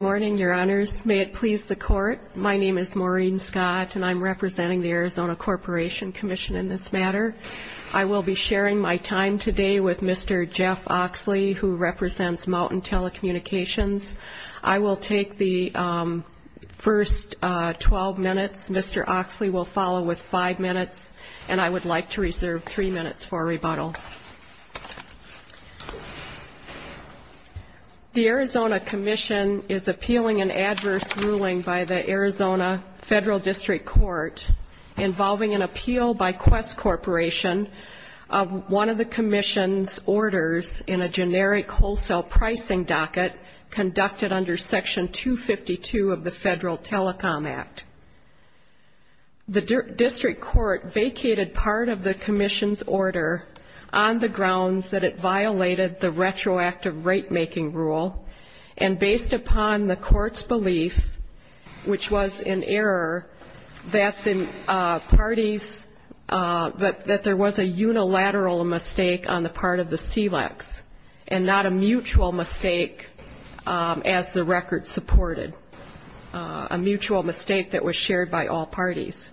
Good morning, Your Honors. May it please the Court, my name is Maureen Scott, and I'm representing the Arizona Corporation Commission in this matter. I will be sharing my time today with Mr. Jeff Oxley, who represents Mountain Telecommunications. I will take the first 12 minutes. Mr. Oxley will follow with 5 minutes, and I would like to reserve 3 minutes for rebuttal. The Arizona Commission is appealing an adverse ruling by the Arizona Federal District Court involving an appeal by Qwest Corporation of one of the Commission's orders in a generic wholesale pricing docket conducted under Section 252 of the Federal Telecom Act. The District Court vacated part of the Commission's order on the grounds that it violated the retroactive rate-making rule, and based upon the Court's belief, which was in error, that there was a unilateral mistake on the part of the SELEX, and not a mutual mistake as the record supported. A mutual mistake that was shared by all parties.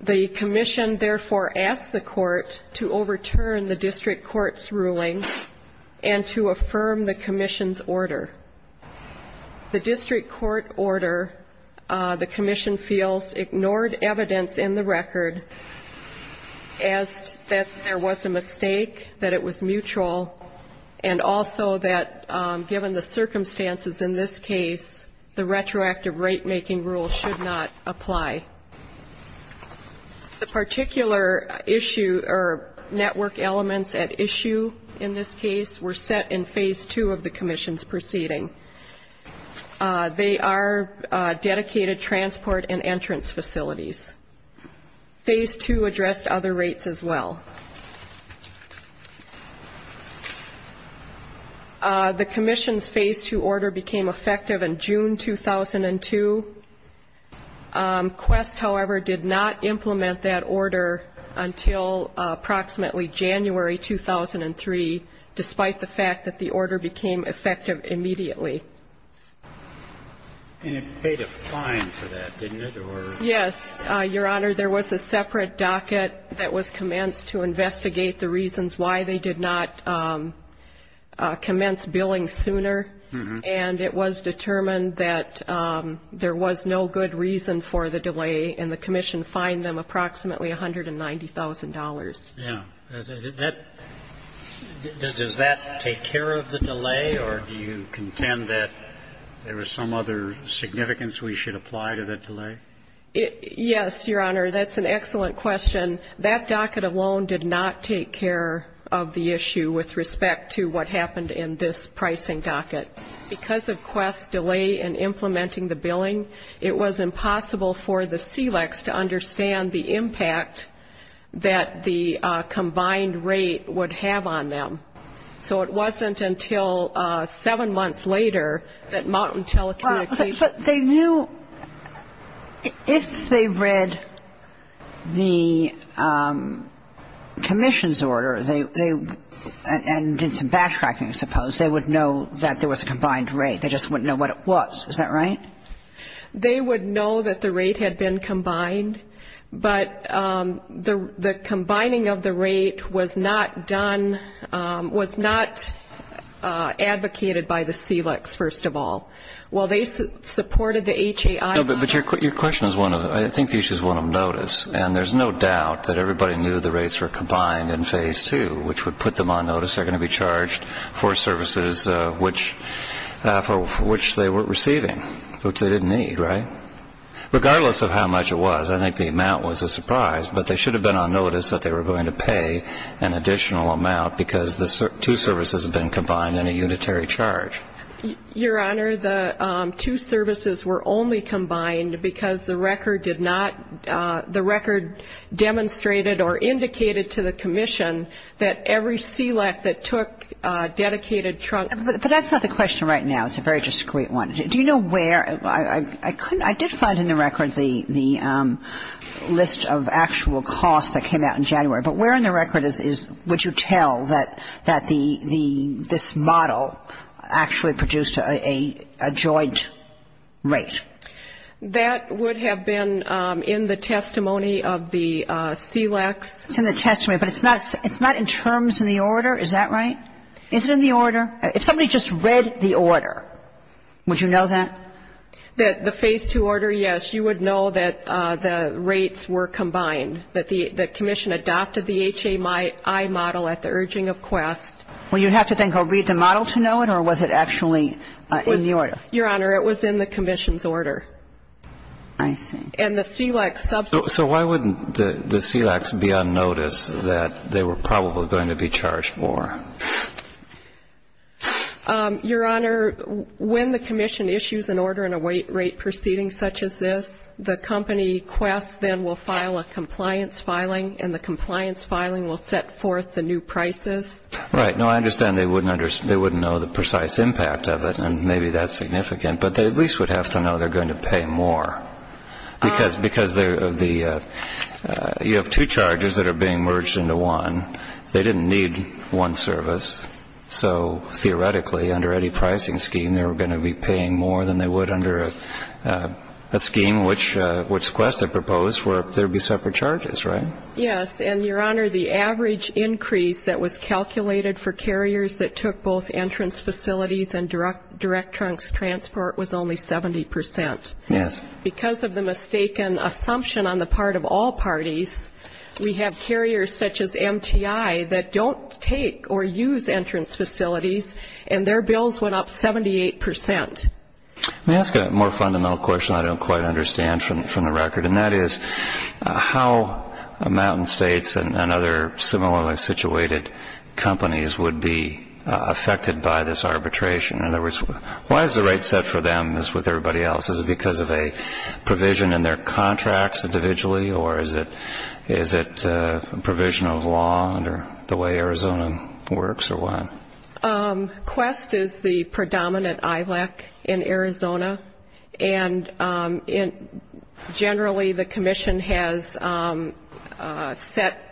The Commission therefore asked the Court to overturn the District Court's ruling and to affirm the Commission's order. The District Court order, the Commission feels, ignored evidence in the record as that there was a mistake, that it was mutual, and also that given the circumstances in this case, the retroactive rate-making rule should not apply. The particular issue or network elements at issue in this case were set in Phase 2 of the Commission's proceeding. They are dedicated transport and entrance facilities. Phase 2 addressed other rates as well. The Commission's order became effective in June 2002. Quest, however, did not implement that order until approximately January 2003, despite the fact that the order became that there was no good reason for the delay, and the Commission fined them approximately $190,000. Yeah. Does that take care of the delay, or do you contend that there was some other significance we should apply to that delay? Yes, Your Honor. That's an excellent question. That docket alone did not take care of the issue with respect to what happened in this pricing docket. Because of Quest's delay in implementing the billing, it was impossible for the SELEX to understand the impact that the combined rate would have on them. So it wasn't until seven months later that Mountain Telecommunications ---- But they knew if they read the Commission's order, and did some backtracking, I suppose, they would know that there was a combined rate. They just wouldn't know what it was. Is that right? They would know that the rate had been combined, but the combining of the rate was not done, was not advocated by the SELEX, first of all. While they supported the HAI ---- But your question is one of them. I think the issue is one of notice. And there's no doubt that everybody knew the rates were combined in Phase 2, which would put them on notice. They're going to be charged for services which they weren't receiving, which they didn't need, right? Regardless of how much it was, I think the amount was a surprise. But they should have been on notice that they were going to pay an additional amount because the two services had been combined in a unitary charge. Your Honor, the two services were only combined because the record did not ---- the record demonstrated or indicated to the Commission that every SELEX that took a dedicated trunk ---- But that's not the question right now. It's a very discreet one. Do you know where ---- I did find in the record the list of actual costs that came out in a joint rate? That would have been in the testimony of the SELEX. It's in the testimony. But it's not in terms in the order. Is that right? Is it in the order? If somebody just read the order, would you know that? That the Phase 2 order, yes. You would know that the rates were combined, that the Commission adopted the HAI model at the urging of Quest. Well, you'd have to then go read the model to know it, or was it actually in the order? Your Honor, it was in the Commission's order. I see. And the SELEX ---- So why wouldn't the SELEX be on notice that they were probably going to be charged for? Your Honor, when the Commission issues an order in a rate proceeding such as this, the company Quest then will file a compliance filing, and the compliance filing will set forth the new prices. Right. No, I understand they wouldn't know the precise impact of it, and maybe that's significant. But they at least would have to know they're going to pay more. Because you have two charges that are being merged into one. They didn't need one service. So theoretically, under any pricing scheme, they were going to be paying more than they would under a scheme which Quest had proposed where there would be separate charges, right? Yes. And, Your Honor, the average increase that was calculated for carriers that took both entrance facilities and direct trunks transport was only 70 percent. Yes. Because of the mistaken assumption on the part of all parties, we have carriers such as MTI that don't take or use entrance facilities, and their bills went up 78 percent. Let me ask a more fundamental question I don't quite understand from the record, and that is how Mountain States and other similarly situated companies would be affected by this arbitration. In other words, why is the rate set for them as with everybody else? Is it because of a provision in their contracts individually, or is it a provision of law under the way Arizona works, or what? Quest is the predominant ILEC in Arizona, and generally the commission has set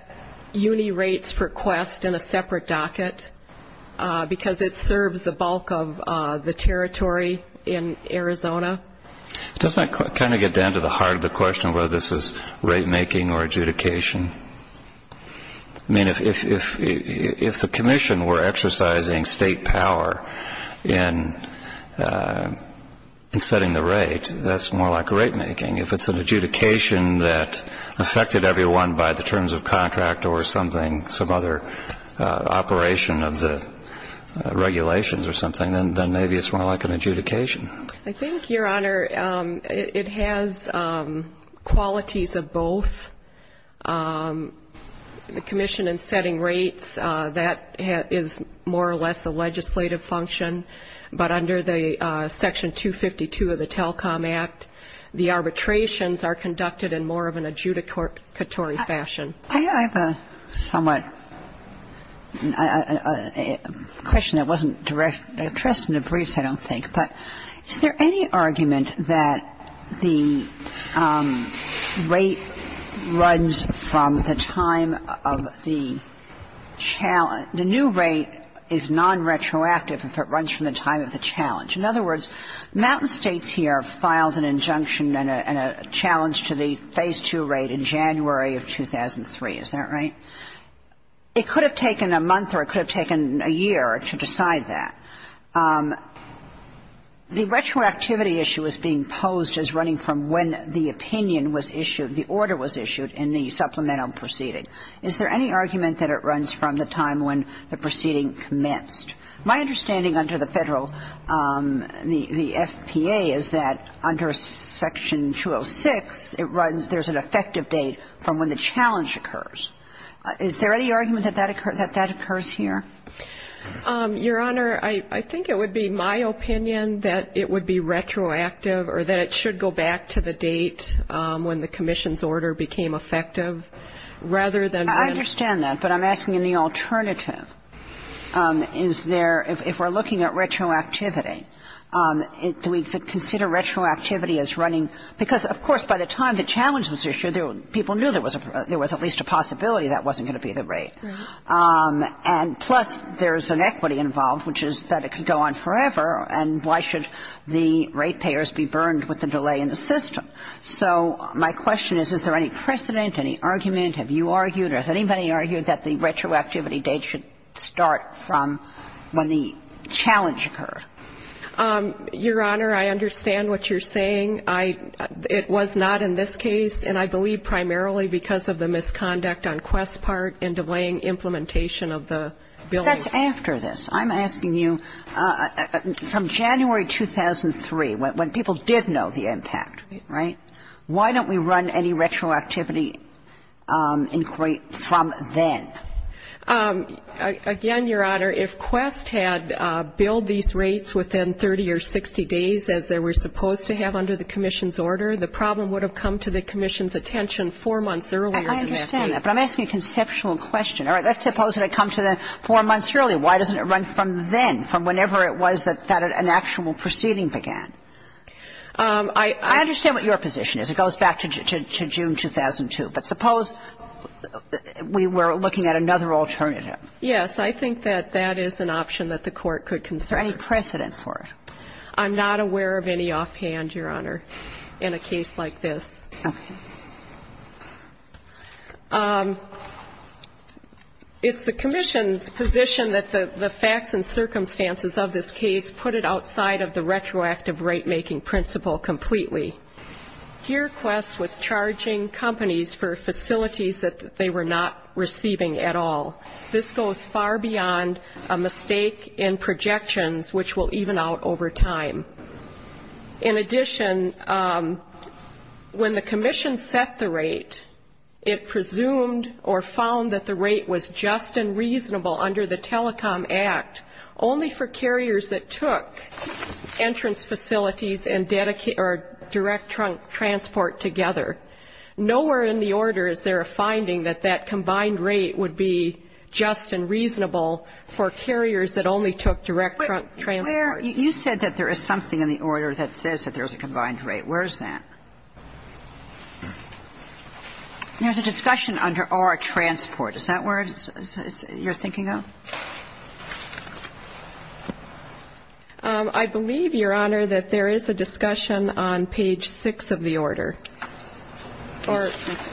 uni rates for Quest in a separate docket because it serves the bulk of the territory in Arizona. Doesn't that kind of get down to the heart of the question of whether this is rate making or adjudication? I mean, if the commission were exercising state power in setting the rate, that's more like rate making. If it's an adjudication that affected everyone by the terms of contract or something, some other operation of the regulations or something, then maybe it's more like an adjudication. I think, Your Honor, it has qualities of both. The commission in setting rates, that is more or less a legislative function, but under the Section 252 of the TELCOM Act, the arbitrations are conducted in more of an adjudicatory fashion. I have a somewhat question that wasn't addressed in the briefs, I don't think. But is there any argument that the rate runs from the time of the challenge? The new rate is nonretroactive if it runs from the time of the challenge. In other words, Mountain States here filed an injunction and a challenge to the Phase 2 rate in January of 2003. Is that right? It could have taken a month or it could have taken a year to decide that. The retroactivity issue is being posed as running from when the opinion was issued, the order was issued in the supplemental proceeding. Is there any argument that it runs from the time when the proceeding commenced? My understanding under the Federal, the FPA, is that under Section 206, it runs, there's an effective date from when the challenge occurs. Is there any argument that that occurs here? Your Honor, I think it would be my opinion that it would be retroactive or that it should go back to the date when the commission's order became effective rather than when. I understand that. But I'm asking in the alternative, is there, if we're looking at retroactivity, do we consider retroactivity as running? Because, of course, by the time the challenge was issued, people knew there was at least a possibility that wasn't going to be the rate. And plus, there's an equity involved, which is that it could go on forever. And why should the rate payers be burned with the delay in the system? So my question is, is there any precedent, any argument? Have you argued or has anybody argued that the retroactivity date should start from when the challenge occurred? Your Honor, I understand what you're saying. It was not in this case, and I believe primarily because of the misconduct on Quest's part in delaying implementation of the bill. That's after this. I'm asking you, from January 2003, when people did know the impact, right, why don't we run any retroactivity inquiry from then? Again, Your Honor, if Quest had billed these rates within 30 or 60 days, as they were supposed to have under the commission's order, the problem would have come to the commission's attention 4 months earlier than that date. I understand that, but I'm asking a conceptual question. All right, let's suppose it had come to them 4 months earlier. Why doesn't it run from then, from whenever it was that an actual proceeding began? I understand what your position is. It goes back to June 2002. But suppose we were looking at another alternative. Yes, I think that that is an option that the Court could consider. Is there any precedent for it? I'm not aware of any offhand, Your Honor, in a case like this. Okay. It's the commission's position that the facts and circumstances of this case put it retroactive rate-making principle completely. Here, Quest was charging companies for facilities that they were not receiving at all. This goes far beyond a mistake in projections, which will even out over time. In addition, when the commission set the rate, it presumed or found that the rate was just and reasonable under the Telecom Act only for carriers that took entrance facilities and direct trunk transport together. Nowhere in the order is there a finding that that combined rate would be just and reasonable for carriers that only took direct trunk transport. But, Claire, you said that there is something in the order that says that there is a combined rate. Where is that? There's a discussion under R, transport. Is that where you're thinking of? I believe, Your Honor, that there is a discussion on page 6 of the order. 6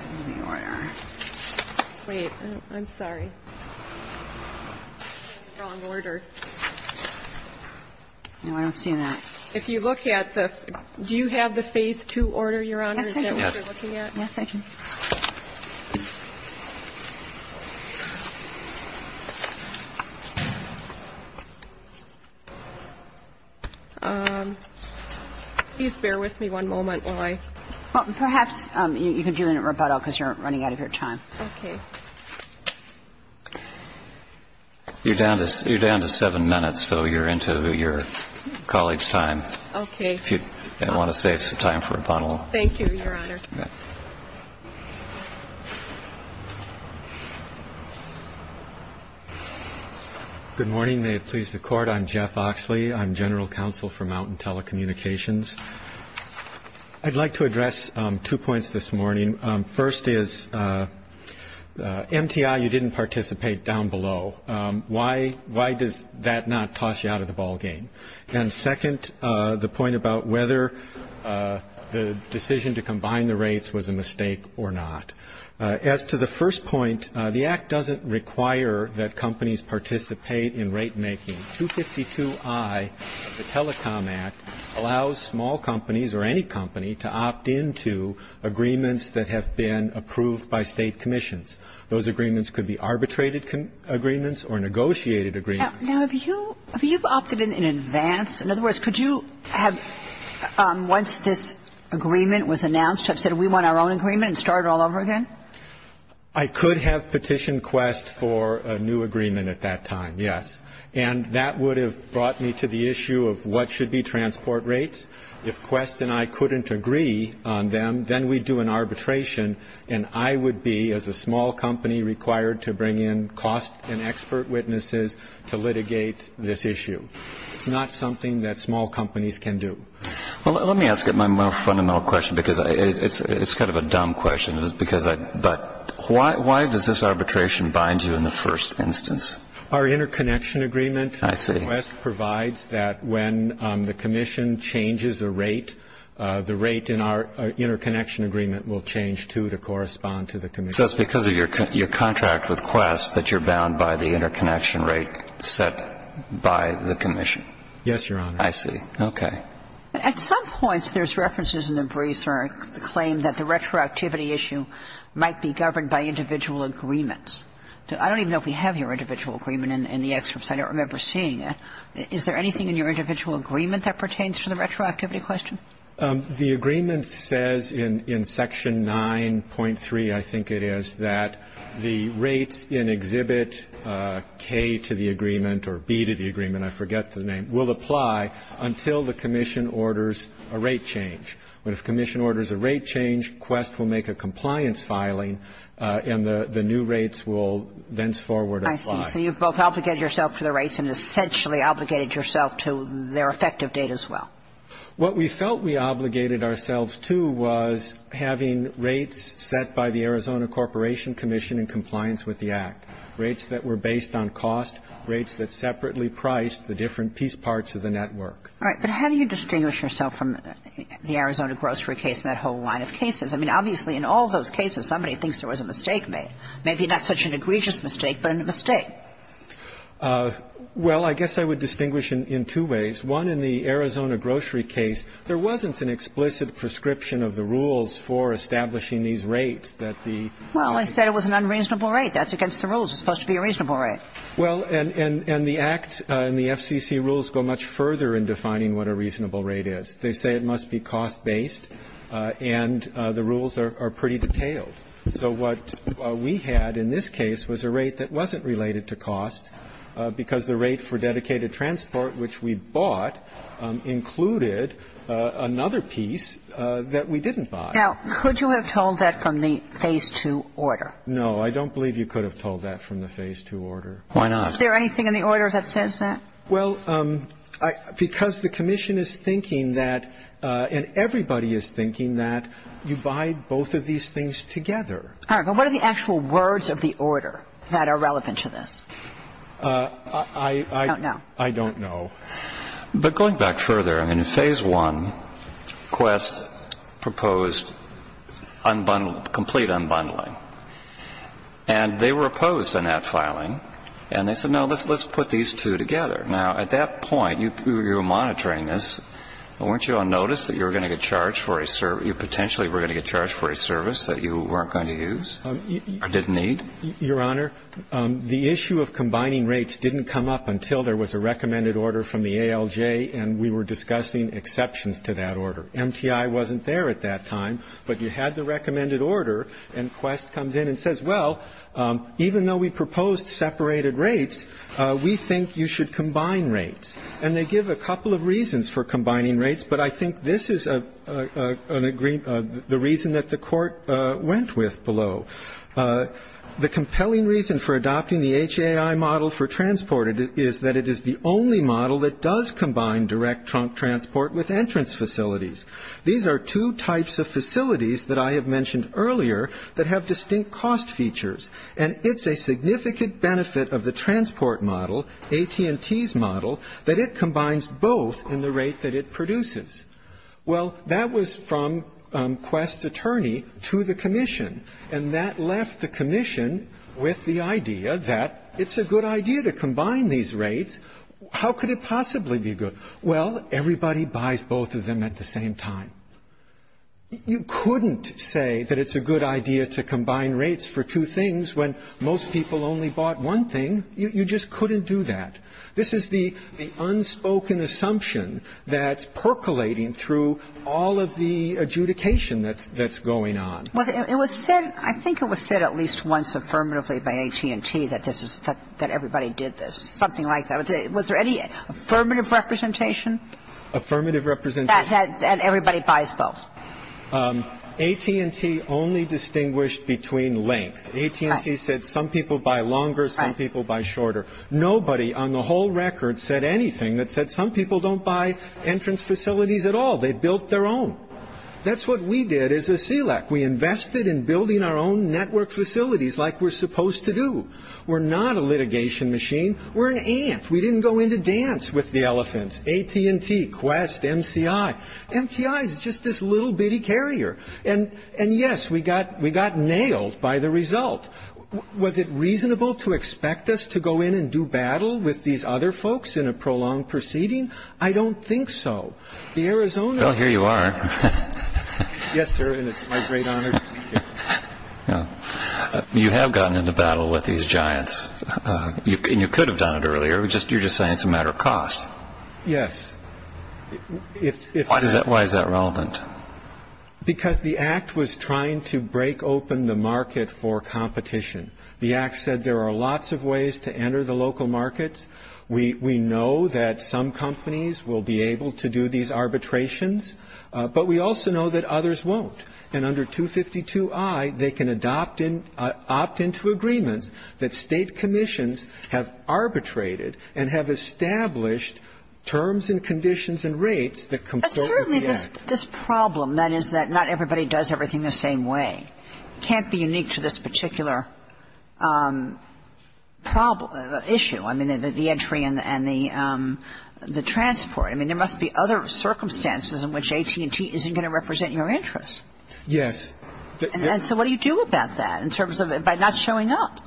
of the order. Wait. I'm sorry. Wrong order. No, I don't see that. If you look at the do you have the phase 2 order, Your Honor? Yes, I do. Is that what you're looking at? Yes, I do. Please bear with me one moment while I. Perhaps you can do it in rebuttal because you're running out of your time. Okay. You're down to seven minutes, so you're into your college time. Okay. If you want to save some time for rebuttal. Thank you, Your Honor. Good morning. May it please the Court. I'm Jeff Oxley. I'm general counsel for Mountain Telecommunications. I'd like to address two points this morning. First is MTI, you didn't participate down below. Why does that not toss you out of the ballgame? And second, the point about whether the decision to combine the rates was a mistake or not. As to the first point, the Act doesn't require that companies participate in rate making. 252I of the Telecom Act allows small companies or any company to opt into agreements that have been approved by State commissions. Those agreements could be arbitrated agreements or negotiated agreements. Now, have you opted in in advance? In other words, could you have, once this agreement was announced, have said we want our own agreement and started all over again? I could have petitioned Quest for a new agreement at that time, yes. And that would have brought me to the issue of what should be transport rates. If Quest and I couldn't agree on them, then we'd do an arbitration and I would be, as a small company, required to bring in cost and expert witnesses to litigate this issue. It's not something that small companies can do. Well, let me ask a more fundamental question because it's kind of a dumb question. But why does this arbitration bind you in the first instance? Our interconnection agreement. I see. Quest provides that when the commission changes a rate, the rate in our interconnection agreement will change, too, to correspond to the commission. So it's because of your contract with Quest that you're bound by the interconnection rate set by the commission? Yes, Your Honor. I see. Okay. At some points, there's references in the briefer that claim that the retroactivity issue might be governed by individual agreements. I don't even know if we have your individual agreement in the excerpts. I don't remember seeing it. Is there anything in your individual agreement that pertains to the retroactivity question? The agreement says in Section 9.3, I think it is, that the rates in Exhibit K to the agreement or B to the agreement, I forget the name, will apply until the commission orders a rate change. But if the commission orders a rate change, Quest will make a compliance filing and the new rates will thenceforward apply. I see. So you've both obligated yourself to the rates and essentially obligated yourself to their effective date as well. What we felt we obligated ourselves to was having rates set by the Arizona Corporation Commission in compliance with the Act, rates that were based on cost, rates that separately priced the different piece parts of the network. All right. But how do you distinguish yourself from the Arizona grocery case and that whole line of cases? I mean, obviously, in all those cases, somebody thinks there was a mistake made. Maybe not such an egregious mistake, but a mistake. Well, I guess I would distinguish in two ways. One, in the Arizona grocery case, there wasn't an explicit prescription of the rules for establishing these rates that the ---- Well, I said it was an unreasonable rate. That's against the rules. It's supposed to be a reasonable rate. Well, and the Act and the FCC rules go much further in defining what a reasonable rate is. They say it must be cost-based, and the rules are pretty detailed. So what we had in this case was a rate that wasn't related to cost because the rate for dedicated transport, which we bought, included another piece that we didn't buy. Now, could you have told that from the Phase 2 order? No. I don't believe you could have told that from the Phase 2 order. Why not? Is there anything in the order that says that? Well, because the commission is thinking that, and everybody is thinking that, you buy both of these things together. All right. But what are the actual words of the order that are relevant to this? I don't know. I don't know. But going back further, in Phase 1, Quest proposed unbundling, complete unbundling. And they were opposed to that filing. And they said, no, let's put these two together. Now, at that point, you were monitoring this. Weren't you on notice that you were going to get charged for a service? You potentially were going to get charged for a service that you weren't going to use or didn't need? Your Honor, the issue of combining rates didn't come up until there was a recommended order from the ALJ, and we were discussing exceptions to that order. MTI wasn't there at that time, but you had the recommended order, and Quest comes in and says, well, even though we proposed separated rates, we think you should combine rates. And they give a couple of reasons for combining rates, but I think this is the reason that the Court went with below. The compelling reason for adopting the HAI model for transport is that it is the only model that does combine direct transport with entrance facilities. These are two types of facilities that I have mentioned earlier that have distinct cost features, and it's a significant benefit of the transport model, AT&T's model, that it combines both in the rate that it produces. Well, that was from Quest's attorney to the commission, and that left the commission with the idea that it's a good idea to combine these rates. How could it possibly be good? Well, everybody buys both of them at the same time. You couldn't say that it's a good idea to combine rates for two things when most people only bought one thing. You just couldn't do that. This is the unspoken assumption that's percolating through all of the adjudication that's going on. Well, it was said, I think it was said at least once affirmatively by AT&T that this is something that everybody did this, something like that. Was there any affirmative representation? Affirmative representation. That everybody buys both. AT&T only distinguished between length. AT&T said some people buy longer, some people buy shorter. Nobody on the whole record said anything that said some people don't buy entrance facilities at all. They built their own. That's what we did as a CLEC. We invested in building our own network facilities like we're supposed to do. We're not a litigation machine. We're an ant. We didn't go in to dance with the elephants. AT&T, Quest, MCI. MCI is just this little bitty carrier. And, yes, we got nailed by the result. Was it reasonable to expect us to go in and do battle with these other folks in a prolonged proceeding? I don't think so. The Arizona ---- Well, here you are. Yes, sir, and it's my great honor to be here. You have gotten into battle with these giants. And you could have done it earlier. You're just saying it's a matter of cost. Yes. Why is that relevant? Because the Act was trying to break open the market for competition. The Act said there are lots of ways to enter the local markets. We know that some companies will be able to do these arbitrations, but we also know that others won't. And under 252I, they can adopt in ---- opt into agreements that State commissions have arbitrated and have established terms and conditions and rates that compose the Act. But certainly this problem, that is that not everybody does everything the same way, can't be unique to this particular problem ---- issue. I mean, the entry and the transport. I mean, there must be other circumstances in which AT&T isn't going to represent your interests. Yes. And so what do you do about that in terms of it not showing up?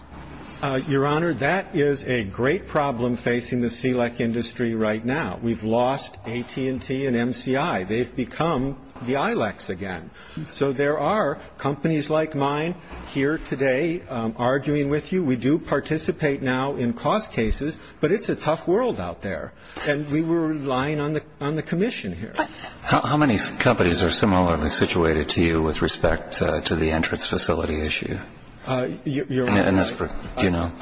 Your Honor, that is a great problem facing the SELEC industry right now. We've lost AT&T and MCI. They've become the ILECs again. So there are companies like mine here today arguing with you. We do participate now in cost cases, but it's a tough world out there. And we were relying on the commission here. How many companies are similarly situated to you with respect to the entrance facility issue? Your Honor,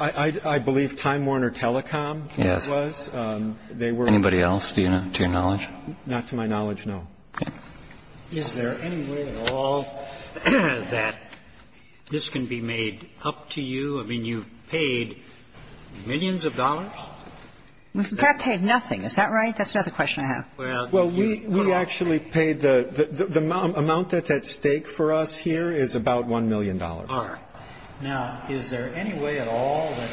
I believe Time Warner Telecom was. Yes. Anybody else, do you know, to your knowledge? Not to my knowledge, no. Okay. Is there any way at all that this can be made up to you? I mean, you've paid millions of dollars. We've in fact paid nothing. Is that right? That's another question I have. Well, we actually paid the amount that's at stake for us here is about $1 million. All right. Now, is there any way at all that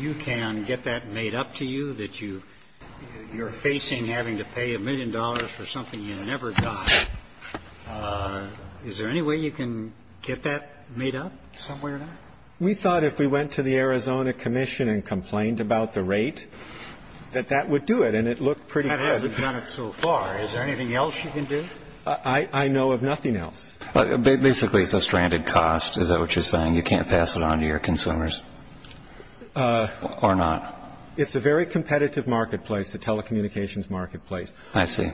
you can get that made up to you, that you're facing having to pay a million dollars for something you never got? Is there any way you can get that made up some way or another? We thought if we went to the Arizona commission and complained about the rate, that that would do it, and it looked pretty good. I mean, I don't know of anything else you can do. I know of nothing else. Basically, it's a stranded cost. Is that what you're saying? You can't pass it on to your consumers or not? It's a very competitive marketplace, the telecommunications marketplace. I see.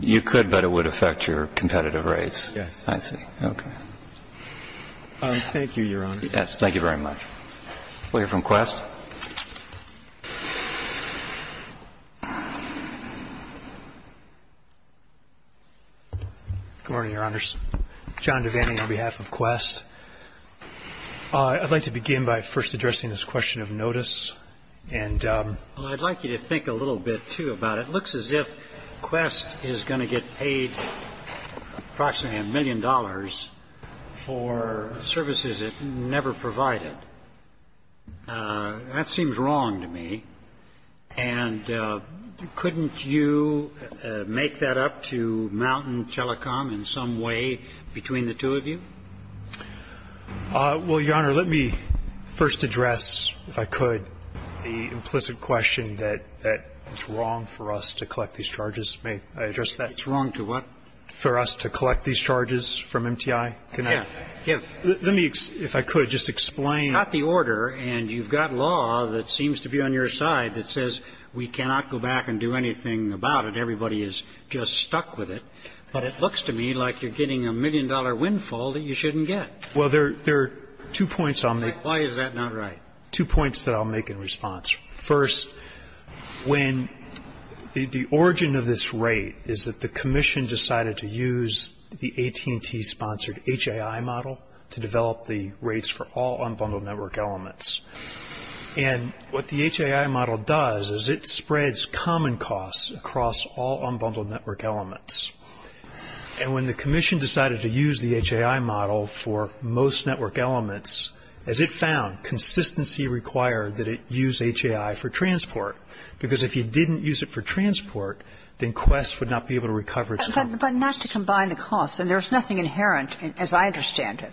You could, but it would affect your competitive rates. Yes. I see. Okay. Thank you, Your Honor. Yes. Thank you very much. We'll hear from Quest. Good morning, Your Honors. John Devaney on behalf of Quest. I'd like to begin by first addressing this question of notice. And I'd like you to think a little bit, too, about it. It looks as if Quest is going to get paid approximately a million dollars for services it never provided. That seems wrong to me. And couldn't you make that up to Mountain Telecom in some way between the two of you? Well, Your Honor, let me first address, if I could, the implicit question that it's wrong for us to collect these charges. May I address that? It's wrong to what? For us to collect these charges from MTI. Yeah. Yeah. Let me, if I could, just explain. It's not the order. And you've got law that seems to be on your side that says we cannot go back and do anything about it. Everybody is just stuck with it. But it looks to me like you're getting a million-dollar windfall that you shouldn't get. Well, there are two points I'll make. Why is that not right? Two points that I'll make in response. First, when the origin of this rate is that the commission decided to use the AT&T-sponsored HAI model to develop the rates for all unbundled network elements. And what the HAI model does is it spreads common costs across all unbundled network elements. And when the commission decided to use the HAI model for most network elements, as it found, consistency required that it use HAI for transport. Because if you didn't use it for transport, then Quest would not be able to recover its common costs. But not to combine the costs. And there's nothing inherent, as I understand it,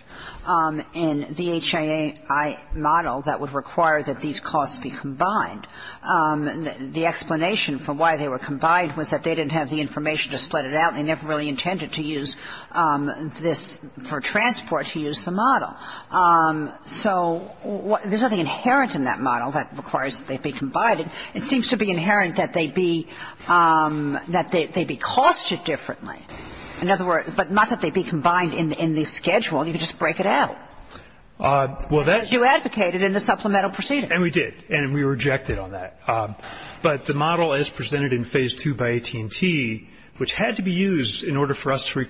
in the HAI model that would require that these costs be combined. The explanation for why they were combined was that they didn't have the information to split it out. They never really intended to use this for transport, to use the model. So there's nothing inherent in that model that requires that they be combined. It seems to be inherent that they be costed differently. In other words, but not that they be combined in the schedule. You could just break it out. As you advocated in the supplemental proceedings. And we did. And we rejected on that. But the model as presented in Phase 2 by AT&T, which had to be used in order for us to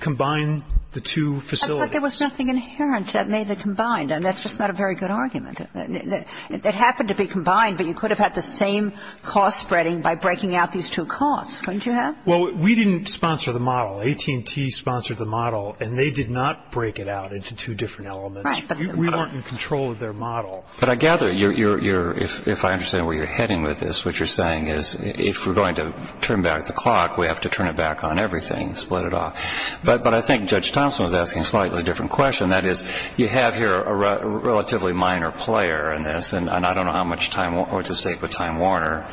combine the two facilities. But there was nothing inherent that made it combined. And that's just not a very good argument. It happened to be combined. But you could have had the same cost spreading by breaking out these two costs, couldn't you have? Well, we didn't sponsor the model. AT&T sponsored the model. And they did not break it out into two different elements. We weren't in control of their model. But I gather, if I understand where you're heading with this, what you're saying is, if we're going to turn back the clock, we have to turn it back on everything, split it off. But I think Judge Thompson is asking a slightly different question. That is, you have here a relatively minor player in this. And I don't know how much time or what's at stake with Time Warner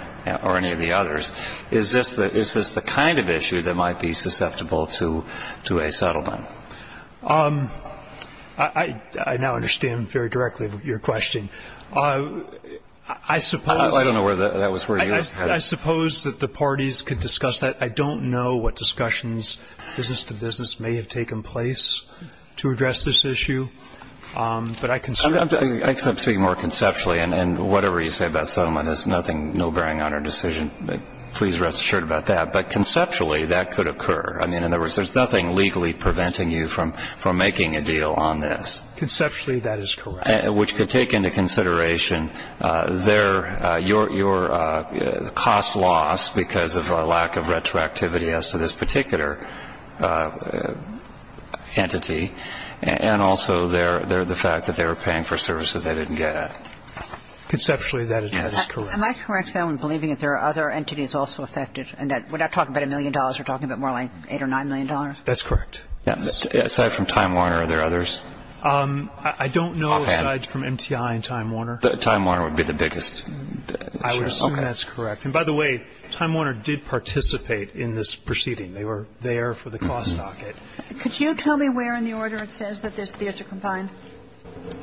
or any of the others. Is this the kind of issue that might be susceptible to a settlement? I now understand very directly your question. I suppose that the parties could discuss that. I don't know what discussions, business to business, may have taken place to address this issue. But I consider it to be more conceptually. And whatever you say about settlement is nothing, no bearing on our decision. Please rest assured about that. But conceptually, that could occur. I mean, in other words, there's nothing legally preventing you from making a deal on this. Conceptually, that is correct. And I'm not sure that there's any other entity that could take into consideration your cost loss because of a lack of retroactivity as to this particular entity and also the fact that they were paying for services they didn't get. Conceptually, that is correct. Am I correct, though, in believing that there are other entities also affected and that we're not talking about a million dollars, we're talking about more like $8 or $9 million? That's correct. Aside from Time Warner, are there others? I don't know, aside from MTI and Time Warner. Time Warner would be the biggest. I would assume that's correct. And by the way, Time Warner did participate in this proceeding. They were there for the cost docket. Could you tell me where in the order it says that there's a combined?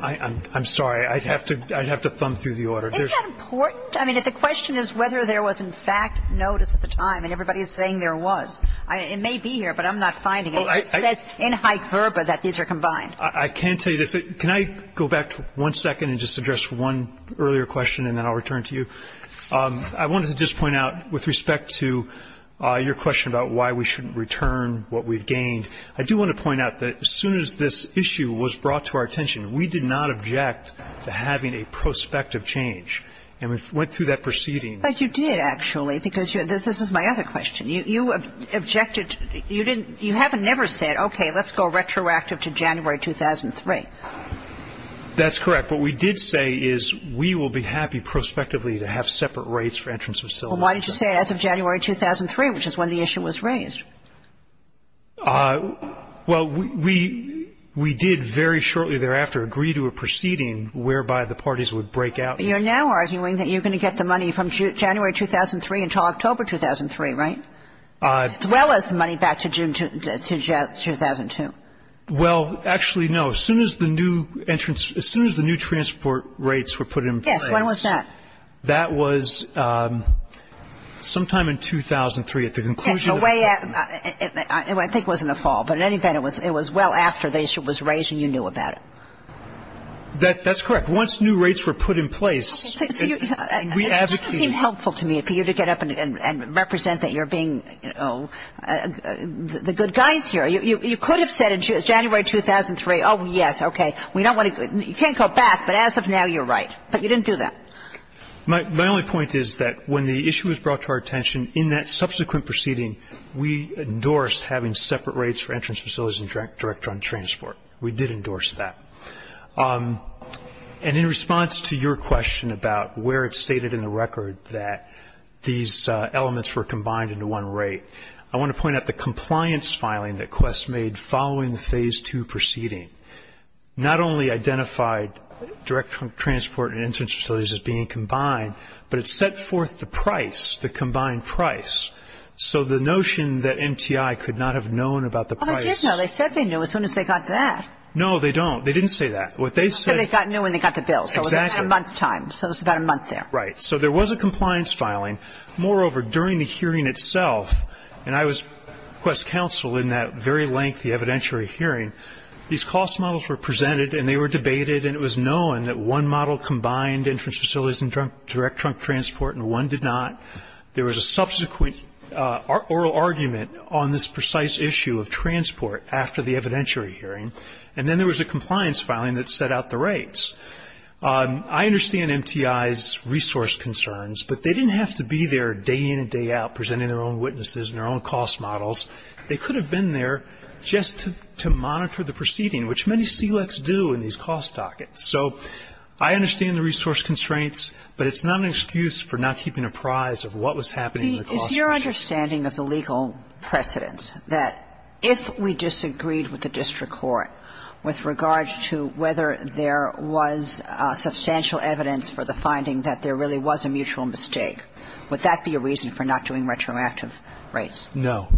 I'm sorry. I'd have to thumb through the order. Isn't that important? I mean, if the question is whether there was, in fact, notice at the time, and everybody is saying there was. It may be here, but I'm not finding it. It says in high verba that these are combined. I can tell you this. Can I go back one second and just address one earlier question and then I'll return to you? I wanted to just point out with respect to your question about why we shouldn't return what we've gained, I do want to point out that as soon as this issue was brought to our attention, we did not object to having a prospective change. And we went through that proceeding. But you did, actually, because this is my other question. You objected, you didn't, you haven't ever said, okay, let's go retroactive to January 2003. That's correct. What we did say is we will be happy prospectively to have separate rates for entrance facility. Well, why didn't you say as of January 2003, which is when the issue was raised? Well, we did very shortly thereafter agree to a proceeding whereby the parties would break out. You're now arguing that you're going to get the money from January 2003 until October 2003, right? As well as the money back to June, to 2002. Well, actually, no. As soon as the new entrance, as soon as the new transport rates were put in place. Yes. When was that? That was sometime in 2003 at the conclusion of the settlement. I think it was in the fall. But in any event, it was well after the issue was raised and you knew about it. That's correct. Once new rates were put in place, we advocated. This doesn't seem helpful to me for you to get up and represent that you're being the good guys here. You could have said in January 2003, oh, yes, okay, we don't want to go you can't go back, but as of now, you're right. But you didn't do that. My only point is that when the issue was brought to our attention, in that subsequent proceeding, we endorsed having separate rates for entrance facilities and direct run transport. We did endorse that. And in response to your question about where it's stated in the record that these elements were combined into one rate, I want to point out the compliance filing that Quest made following the Phase II proceeding not only identified direct transport and entrance facilities as being combined, but it set forth the price, the combined price. So the notion that MTI could not have known about the price. Well, they did know. They said they knew as soon as they got that. No, they don't. They didn't say that. They said they knew when they got the bill. Exactly. So it was about a month's time. So it was about a month there. Right. So there was a compliance filing. Moreover, during the hearing itself, and I was Quest counsel in that very lengthy evidentiary hearing, these cost models were presented and they were debated and it was known that one model combined entrance facilities and direct trunk transport and one did not. There was a subsequent oral argument on this precise issue of transport after the and then there was a compliance filing that set out the rates. I understand MTI's resource concerns, but they didn't have to be there day in and day out presenting their own witnesses and their own cost models. They could have been there just to monitor the proceeding, which many CLECs do in these cost dockets. So I understand the resource constraints, but it's not an excuse for not keeping apprised of what was happening in the cost case. Is your understanding of the legal precedence that if we disagreed with the district court with regard to whether there was substantial evidence for the finding that there really was a mutual mistake, would that be a reason for not doing retroactive rates? No.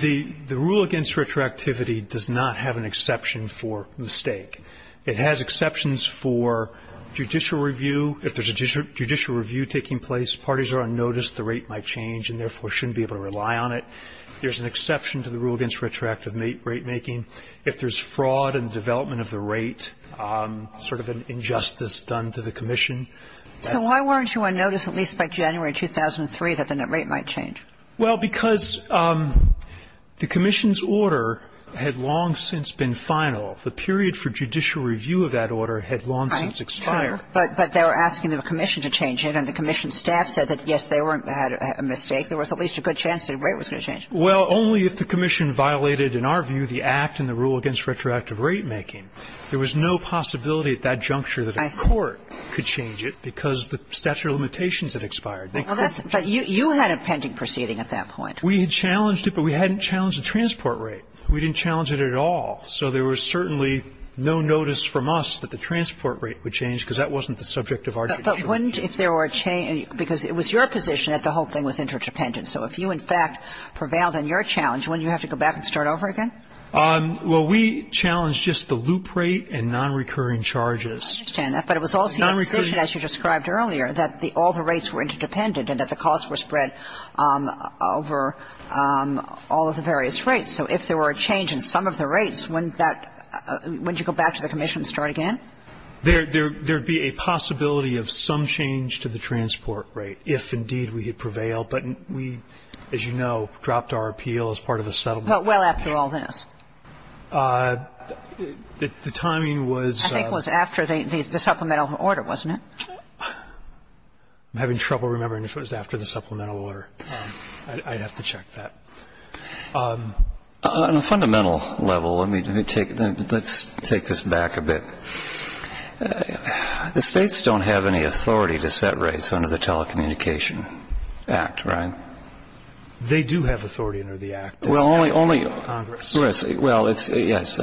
The rule against retroactivity does not have an exception for mistake. It has exceptions for judicial review. If there's a judicial review taking place, parties are on notice, the rate might change and therefore shouldn't be able to rely on it. There's an exception to the rule against retroactive rate making. If there's fraud in the development of the rate, sort of an injustice done to the Commission. So why weren't you on notice at least by January 2003 that the rate might change? Well, because the Commission's order had long since been final. The period for judicial review of that order had long since expired. Right. Sure. But they were asking the Commission to change it, and the Commission staff said that, yes, they had a mistake. There was at least a good chance that the rate was going to change. Well, only if the Commission violated, in our view, the Act and the rule against retroactive rate making. There was no possibility at that juncture that a court could change it because the statute of limitations had expired. Well, that's – but you had a pending proceeding at that point. We had challenged it, but we hadn't challenged the transport rate. We didn't challenge it at all. So there was certainly no notice from us that the transport rate would change, because that wasn't the subject of our judicial review. But wouldn't, if there were a change – because it was your position that the whole thing was interdependent. So if you, in fact, prevailed on your challenge, wouldn't you have to go back and start over again? Well, we challenged just the loop rate and nonrecurring charges. I understand that. But it was also your position, as you described earlier, that all the rates were interdependent and that the costs were spread over all of the various rates. So if there were a change in some of the rates, wouldn't that – wouldn't you go back to the Commission and start again? There would be a possibility of some change to the transport rate if, indeed, we had prevailed. But we, as you know, dropped our appeal as part of the settlement. But well after all this? The timing was – I think it was after the supplemental order, wasn't it? I'm having trouble remembering if it was after the supplemental order. I'd have to check that. On a fundamental level, let me take – let's take this back a bit. The States don't have any authority to set rates under the Telecommunication Act, right? They do have authority under the Act. Well, only – only – Congress. Well, it's – yes.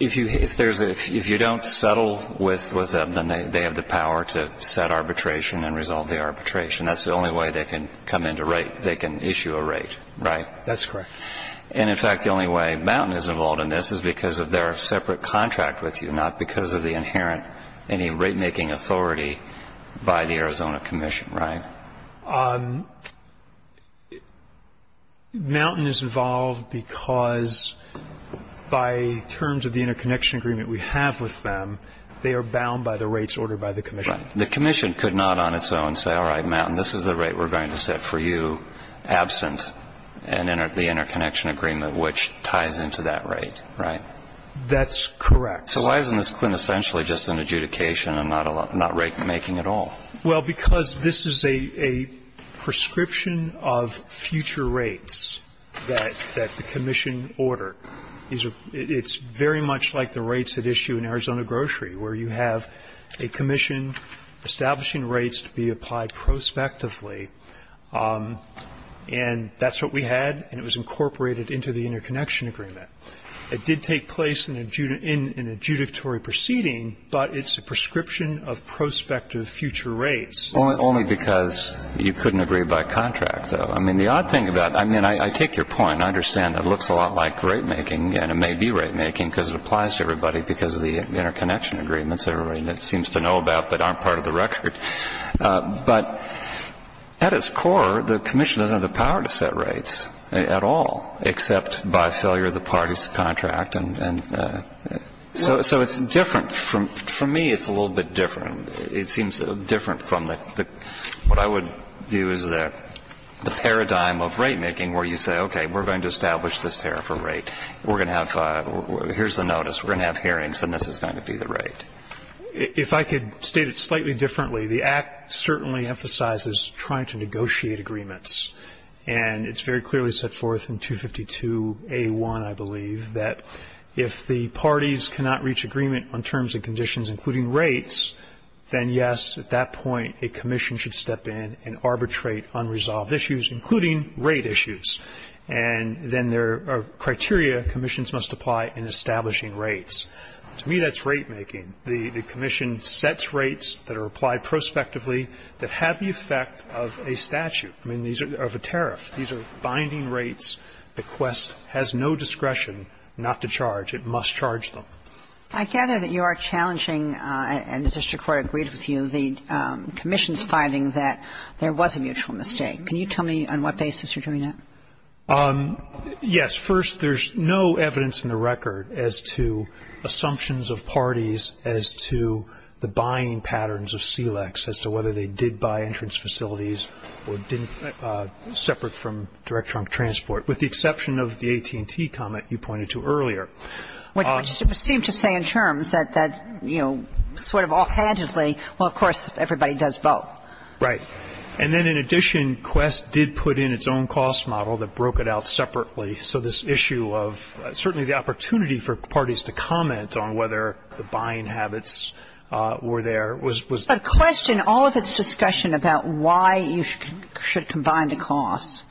If you – if there's a – if you don't settle with them, then they have the power to set arbitration and resolve the arbitration. That's the only way they can come into rate – they can issue a rate, right? That's correct. And, in fact, the only way Mountain is involved in this is because of their separate contract with you, not because of the inherent – any rate-making authority by the Arizona Commission, right? Mountain is involved because by terms of the interconnection agreement we have with them, they are bound by the rates ordered by the Commission. The Commission could not on its own say, all right, Mountain, this is the rate we're going to set for you absent the interconnection agreement, which ties into that rate, right? That's correct. So why isn't this quintessentially just an adjudication and not a – not rate-making at all? Well, because this is a – a prescription of future rates that – that the Commission ordered. It's very much like the rates at issue in Arizona Grocery, where you have a commission establishing rates to be applied prospectively, and that's what we had, and it was incorporated into the interconnection agreement. It did take place in a – in an adjudicatory proceeding, but it's a prescription of prospective future rates. Only – only because you couldn't agree by contract, though. I mean, the odd thing about – I mean, I take your point. I understand it looks a lot like rate-making, and it may be rate-making because it applies to everybody because of the interconnection agreements everybody seems to know about but aren't part of the record. But at its core, the Commission doesn't have the power to set rates at all, except by failure of the party's contract. And so it's different. For me, it's a little bit different. It seems different from the – what I would view as the paradigm of rate-making where you say, okay, we're going to establish this tariff or rate. We're going to have – here's the notice. We're going to have hearings, and this is going to be the rate. And it's very clearly set forth in 252A1, I believe, that if the parties cannot reach agreement on terms and conditions, including rates, then, yes, at that point, a commission should step in and arbitrate unresolved issues, including rate issues. And then there are criteria commissions must apply in establishing rates. To me, that's rate-making. The Commission sets rates that are applied prospectively that have the effect of a statute, I mean, of a tariff. These are binding rates. The Quest has no discretion not to charge. It must charge them. I gather that you are challenging, and the district court agreed with you, the Commission's finding that there was a mutual mistake. Can you tell me on what basis you're doing that? Yes. First, there's no evidence in the record as to assumptions of parties as to the buying patterns of SELEX, as to whether they did buy entrance facilities or didn't separate from direct trunk transport, with the exception of the AT&T comment you pointed to earlier. Which seemed to say in terms that, you know, sort of offhandedly, well, of course, everybody does both. Right. And then, in addition, Quest did put in its own cost model that broke it out separately. So this issue of certainly the opportunity for parties to comment on whether the buying habits were there was. But Quest, in all of its discussion about why you should combine the costs,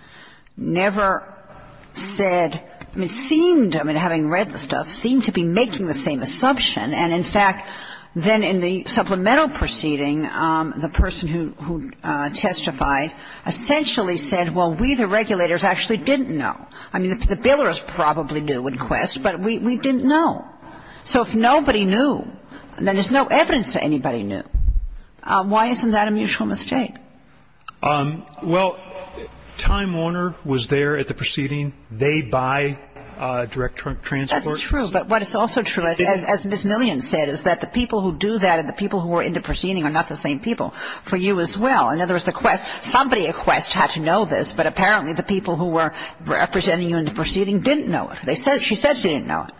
never said, it seemed, I mean, having read the stuff, seemed to be making the same assumption. And in fact, then in the supplemental proceeding, the person who testified essentially said, well, we, the regulators, actually didn't know. I mean, the billers probably knew in Quest, but we didn't know. So if nobody knew, then there's no evidence that anybody knew. Why isn't that a mutual mistake? Well, Time Warner was there at the proceeding. They buy direct trunk transport. That's true. But what is also true, as Ms. Millian said, is that the people who do that and the people who were in the proceeding are not the same people for you as well. In other words, the Quest, somebody at Quest had to know this, but apparently the people who were representing you in the proceeding didn't know it. They said, she said she didn't know it.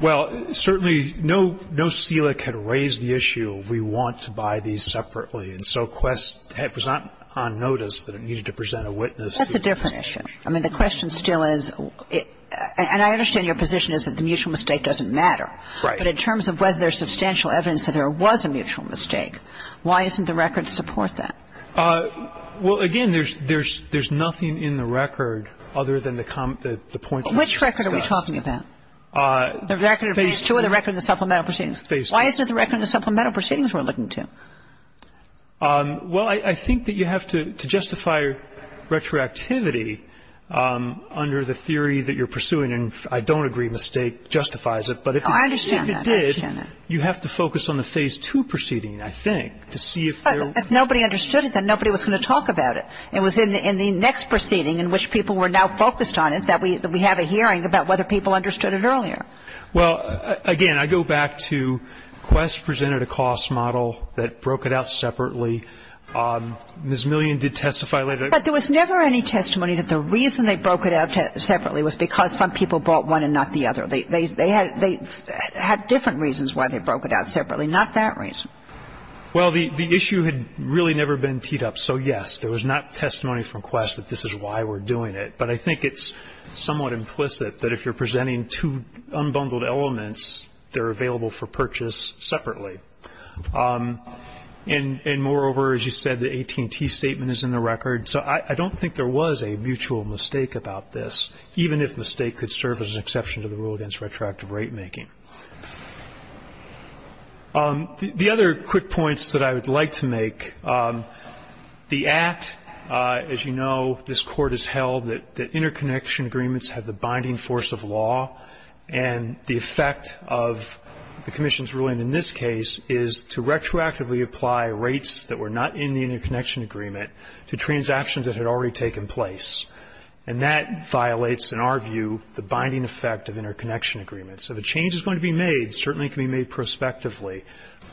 Well, certainly no CELIC had raised the issue of we want to buy these separately. And so Quest, it was not on notice that it needed to present a witness. That's a different issue. I mean, the question still is, and I understand your position is that the mutual mistake doesn't matter. Right. But in terms of whether there's substantial evidence that there was a mutual mistake, why isn't the record to support that? Well, again, there's nothing in the record other than the points that I just discussed. Which record are we talking about? The record of Phase II or the record of the supplemental proceedings? Phase II. Why isn't it the record of the supplemental proceedings we're looking to? Well, I think that you have to justify retroactivity under the theory that you're pursuing. And I don't agree mistake justifies it. But if it did, you have to focus on the Phase II proceeding, I think, to see if there were. But if nobody understood it, then nobody was going to talk about it. It was in the next proceeding in which people were now focused on it that we have a hearing about whether people understood it earlier. Well, again, I go back to Quest presented a cost model that broke it out separately. Ms. Million did testify later. But there was never any testimony that the reason they broke it out separately was because some people bought one and not the other. They had different reasons why they broke it out separately, not that reason. Well, the issue had really never been teed up. So, yes, there was not testimony from Quest that this is why we're doing it. But I think it's somewhat implicit that if you're presenting two unbundled elements, they're available for purchase separately. And, moreover, as you said, the AT&T statement is in the record. So I don't think there was a mutual mistake about this, even if mistake could serve as an exception to the rule against retroactive rate making. The other quick points that I would like to make, the Act, as you know, this Court has held that interconnection agreements have the binding force of law. And the effect of the Commission's ruling in this case is to retroactively apply rates that were not in the interconnection agreement to transactions that had already taken place. And that violates, in our view, the binding effect of interconnection agreements. So the change that's going to be made certainly can be made prospectively,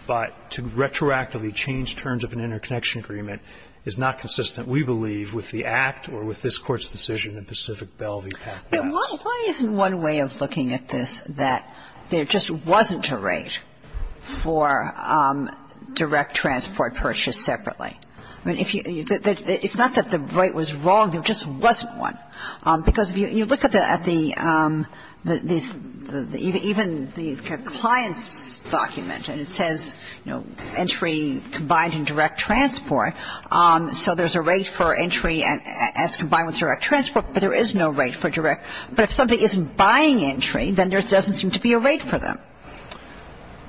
but to retroactively change terms of an interconnection agreement is not consistent, we believe, with the Act or with this Court's decision in Pacific Belle v. Packer. Kagan. Why isn't one way of looking at this that there just wasn't a rate for direct transport purchased separately? I mean, if you – it's not that the right was wrong. There just wasn't one. Because if you look at the – even the compliance document, and it says, you know, there's a rate for entry combined in direct transport, so there's a rate for entry as combined with direct transport, but there is no rate for direct. But if somebody isn't buying entry, then there doesn't seem to be a rate for them.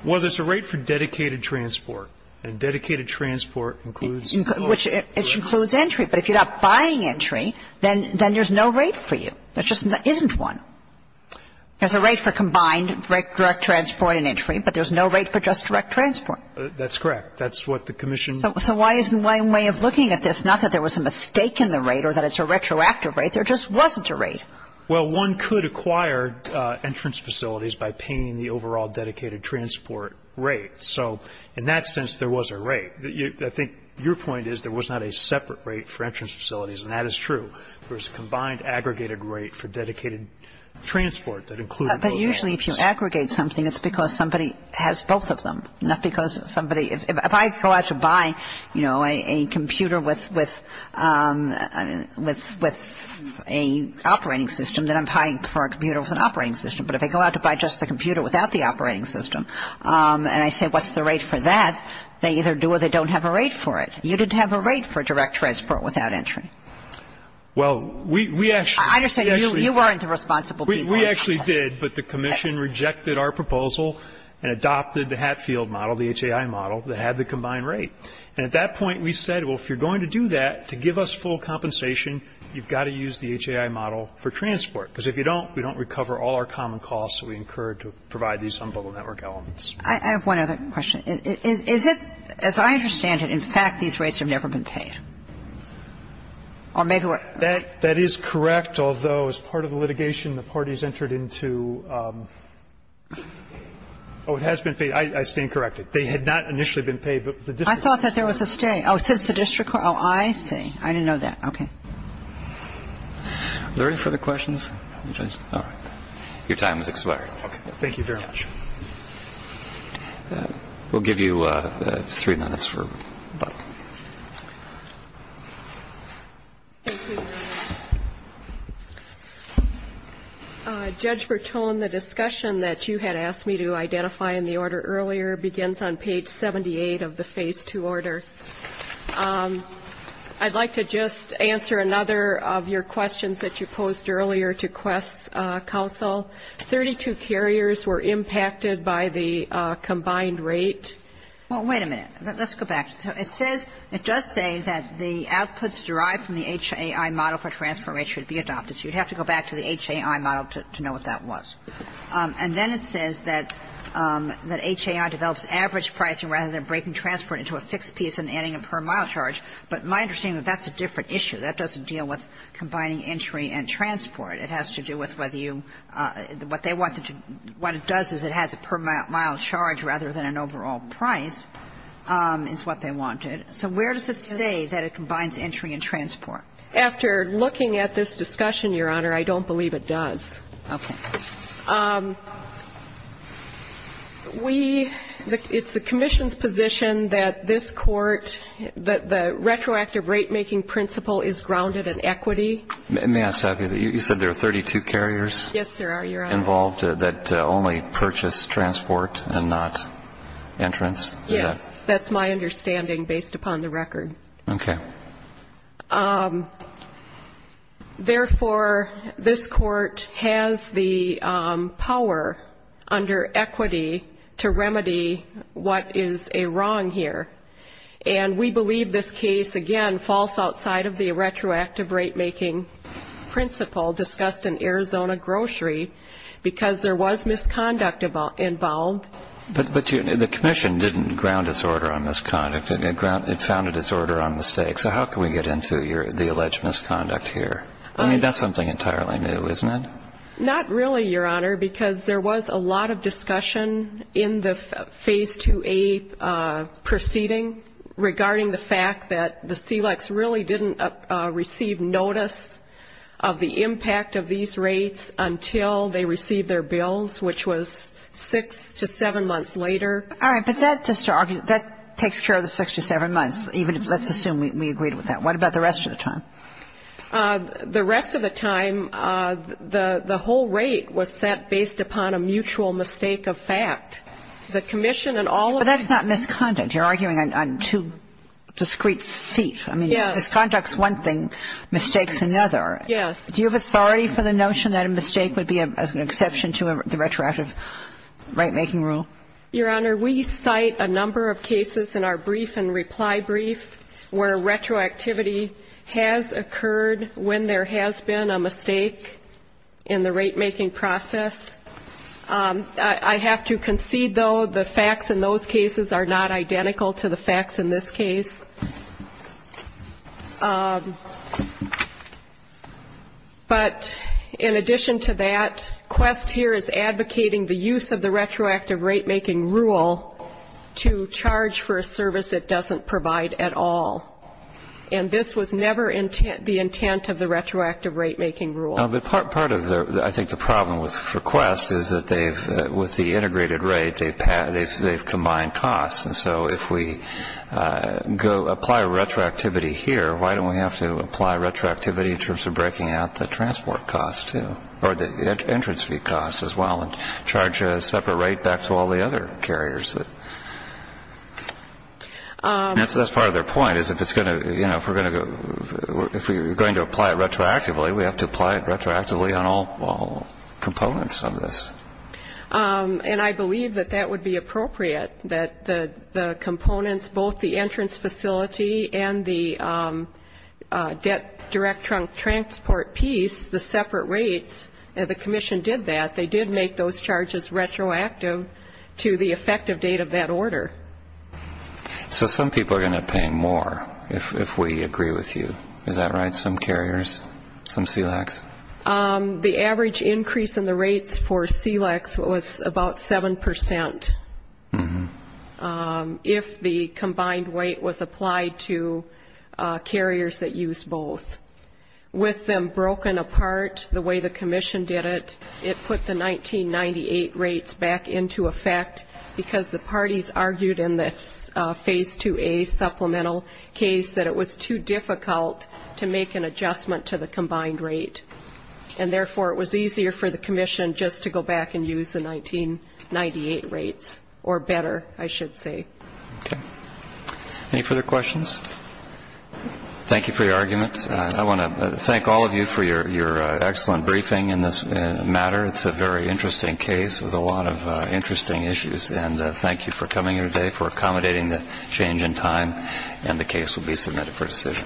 Well, there's a rate for dedicated transport. And dedicated transport includes – Which includes entry. But if you're not buying entry, then there's no rate for you. There just isn't one. There's a rate for combined direct transport and entry, but there's no rate for just direct transport. That's correct. That's what the commission – So why isn't one way of looking at this, not that there was a mistake in the rate or that it's a retroactive rate. There just wasn't a rate. Well, one could acquire entrance facilities by paying the overall dedicated transport rate. So in that sense, there was a rate. I think your point is there was not a separate rate for entrance facilities, There's a combined aggregated rate for dedicated transport that included both rates. But usually if you aggregate something, it's because somebody has both of them, not because somebody – if I go out to buy, you know, a computer with a operating system, then I'm paying for a computer with an operating system. But if I go out to buy just the computer without the operating system, and I say, what's the rate for that, they either do or they don't have a rate for it. You didn't have a rate for direct transport without entry. Well, we actually – I understand. You weren't the responsible person. We actually did, but the commission rejected our proposal and adopted the Hatfield model, the HAI model, that had the combined rate. And at that point, we said, well, if you're going to do that, to give us full compensation, you've got to use the HAI model for transport, because if you don't, we don't recover all our common costs that we incurred to provide these unbundled network elements. I have one other question. Is it – as I understand it, in fact, these rates have never been paid? Or maybe we're – That is correct, although as part of the litigation, the parties entered into – oh, it has been paid. I stand corrected. They had not initially been paid, but the district court – I thought that there was a stay. Oh, since the district court. Oh, I see. I didn't know that. Okay. Are there any further questions? All right. Your time has expired. Thank you very much. We'll give you three minutes for a vote. Thank you, Your Honor. Judge Bertone, the discussion that you had asked me to identify in the order earlier begins on page 78 of the Phase 2 order. I'd like to just answer another of your questions that you posed earlier to Quest's counsel. Thirty-two carriers were impacted by the combined rate. Well, wait a minute. Let's go back. So it says – it does say that the outputs derived from the HAI model for transfer rate should be adopted. So you'd have to go back to the HAI model to know what that was. And then it says that HAI develops average pricing rather than breaking transport into a fixed piece and adding a per-mile charge. But my understanding is that that's a different issue. That doesn't deal with combining entry and transport. It has to do with whether you – what they wanted to – what it does is it has a per-mile charge rather than an overall price is what they wanted. So where does it say that it combines entry and transport? After looking at this discussion, Your Honor, I don't believe it does. Okay. We – it's the commission's position that this Court – that the retroactive rate-making principle is grounded in equity. May I stop you there? You said there are 32 carriers? Yes, there are, Your Honor. Involved that only purchase transport and not entrance? Yes. That's my understanding based upon the record. Okay. Therefore, this Court has the power under equity to remedy what is a wrong here. And we believe this case, again, falls outside of the retroactive rate-making principle discussed in Arizona Grocery because there was misconduct involved. But the commission didn't ground its order on misconduct. It founded its order on mistakes. So how can we get into the alleged misconduct here? I mean, that's something entirely new, isn't it? Not really, Your Honor, because there was a lot of discussion in the Phase 2A proceeding regarding the fact that the SELEX really didn't receive notice of the impact of these rates until they received their bills, which was six to seven months later. All right. But that, just to argue, that takes care of the six to seven months, even if, let's assume, we agreed with that. What about the rest of the time? The rest of the time, the whole rate was set based upon a mutual mistake of fact. The commission and all of the others. But that's not misconduct. You're arguing on two discrete feet. I mean, misconduct's one thing, mistake's another. Yes. Do you have authority for the notion that a mistake would be an exception to the retroactive rate-making rule? Your Honor, we cite a number of cases in our brief and reply brief where retroactivity has occurred when there has been a mistake in the rate-making process. I have to concede, though, the facts in those cases are not identical to the facts in this case. But in addition to that, Quest here is advocating the use of the retroactive rate-making rule to charge for a service it doesn't provide at all. And this was never the intent of the retroactive rate-making rule. But part of, I think, the problem with Quest is that they've, with the integrated rate, they've combined costs. And so if we go apply retroactivity here, why don't we have to apply retroactivity in terms of breaking out the transport cost too, or the entrance fee cost as well, and charge a separate rate back to all the other carriers? That's part of their point, is if it's going to, you know, if we're going to go, we have to apply it retroactively on all components of this. And I believe that that would be appropriate, that the components, both the entrance facility and the direct transport piece, the separate rates, the commission did that. They did make those charges retroactive to the effective date of that order. So some people are going to pay more if we agree with you. Is that right, some carriers, some SELACs? The average increase in the rates for SELACs was about 7% if the combined weight was applied to carriers that used both. With them broken apart the way the commission did it, it put the 1998 rates back into effect because the parties argued in the Phase 2A supplemental case that it was too difficult to make an adjustment to the combined rate, and therefore it was easier for the commission just to go back and use the 1998 rates, or better, I should say. Okay. Any further questions? Thank you for your arguments. I want to thank all of you for your excellent briefing in this matter. It's a very interesting case with a lot of interesting issues. And thank you for coming here today, for accommodating the change in time, and the case will be submitted for decision.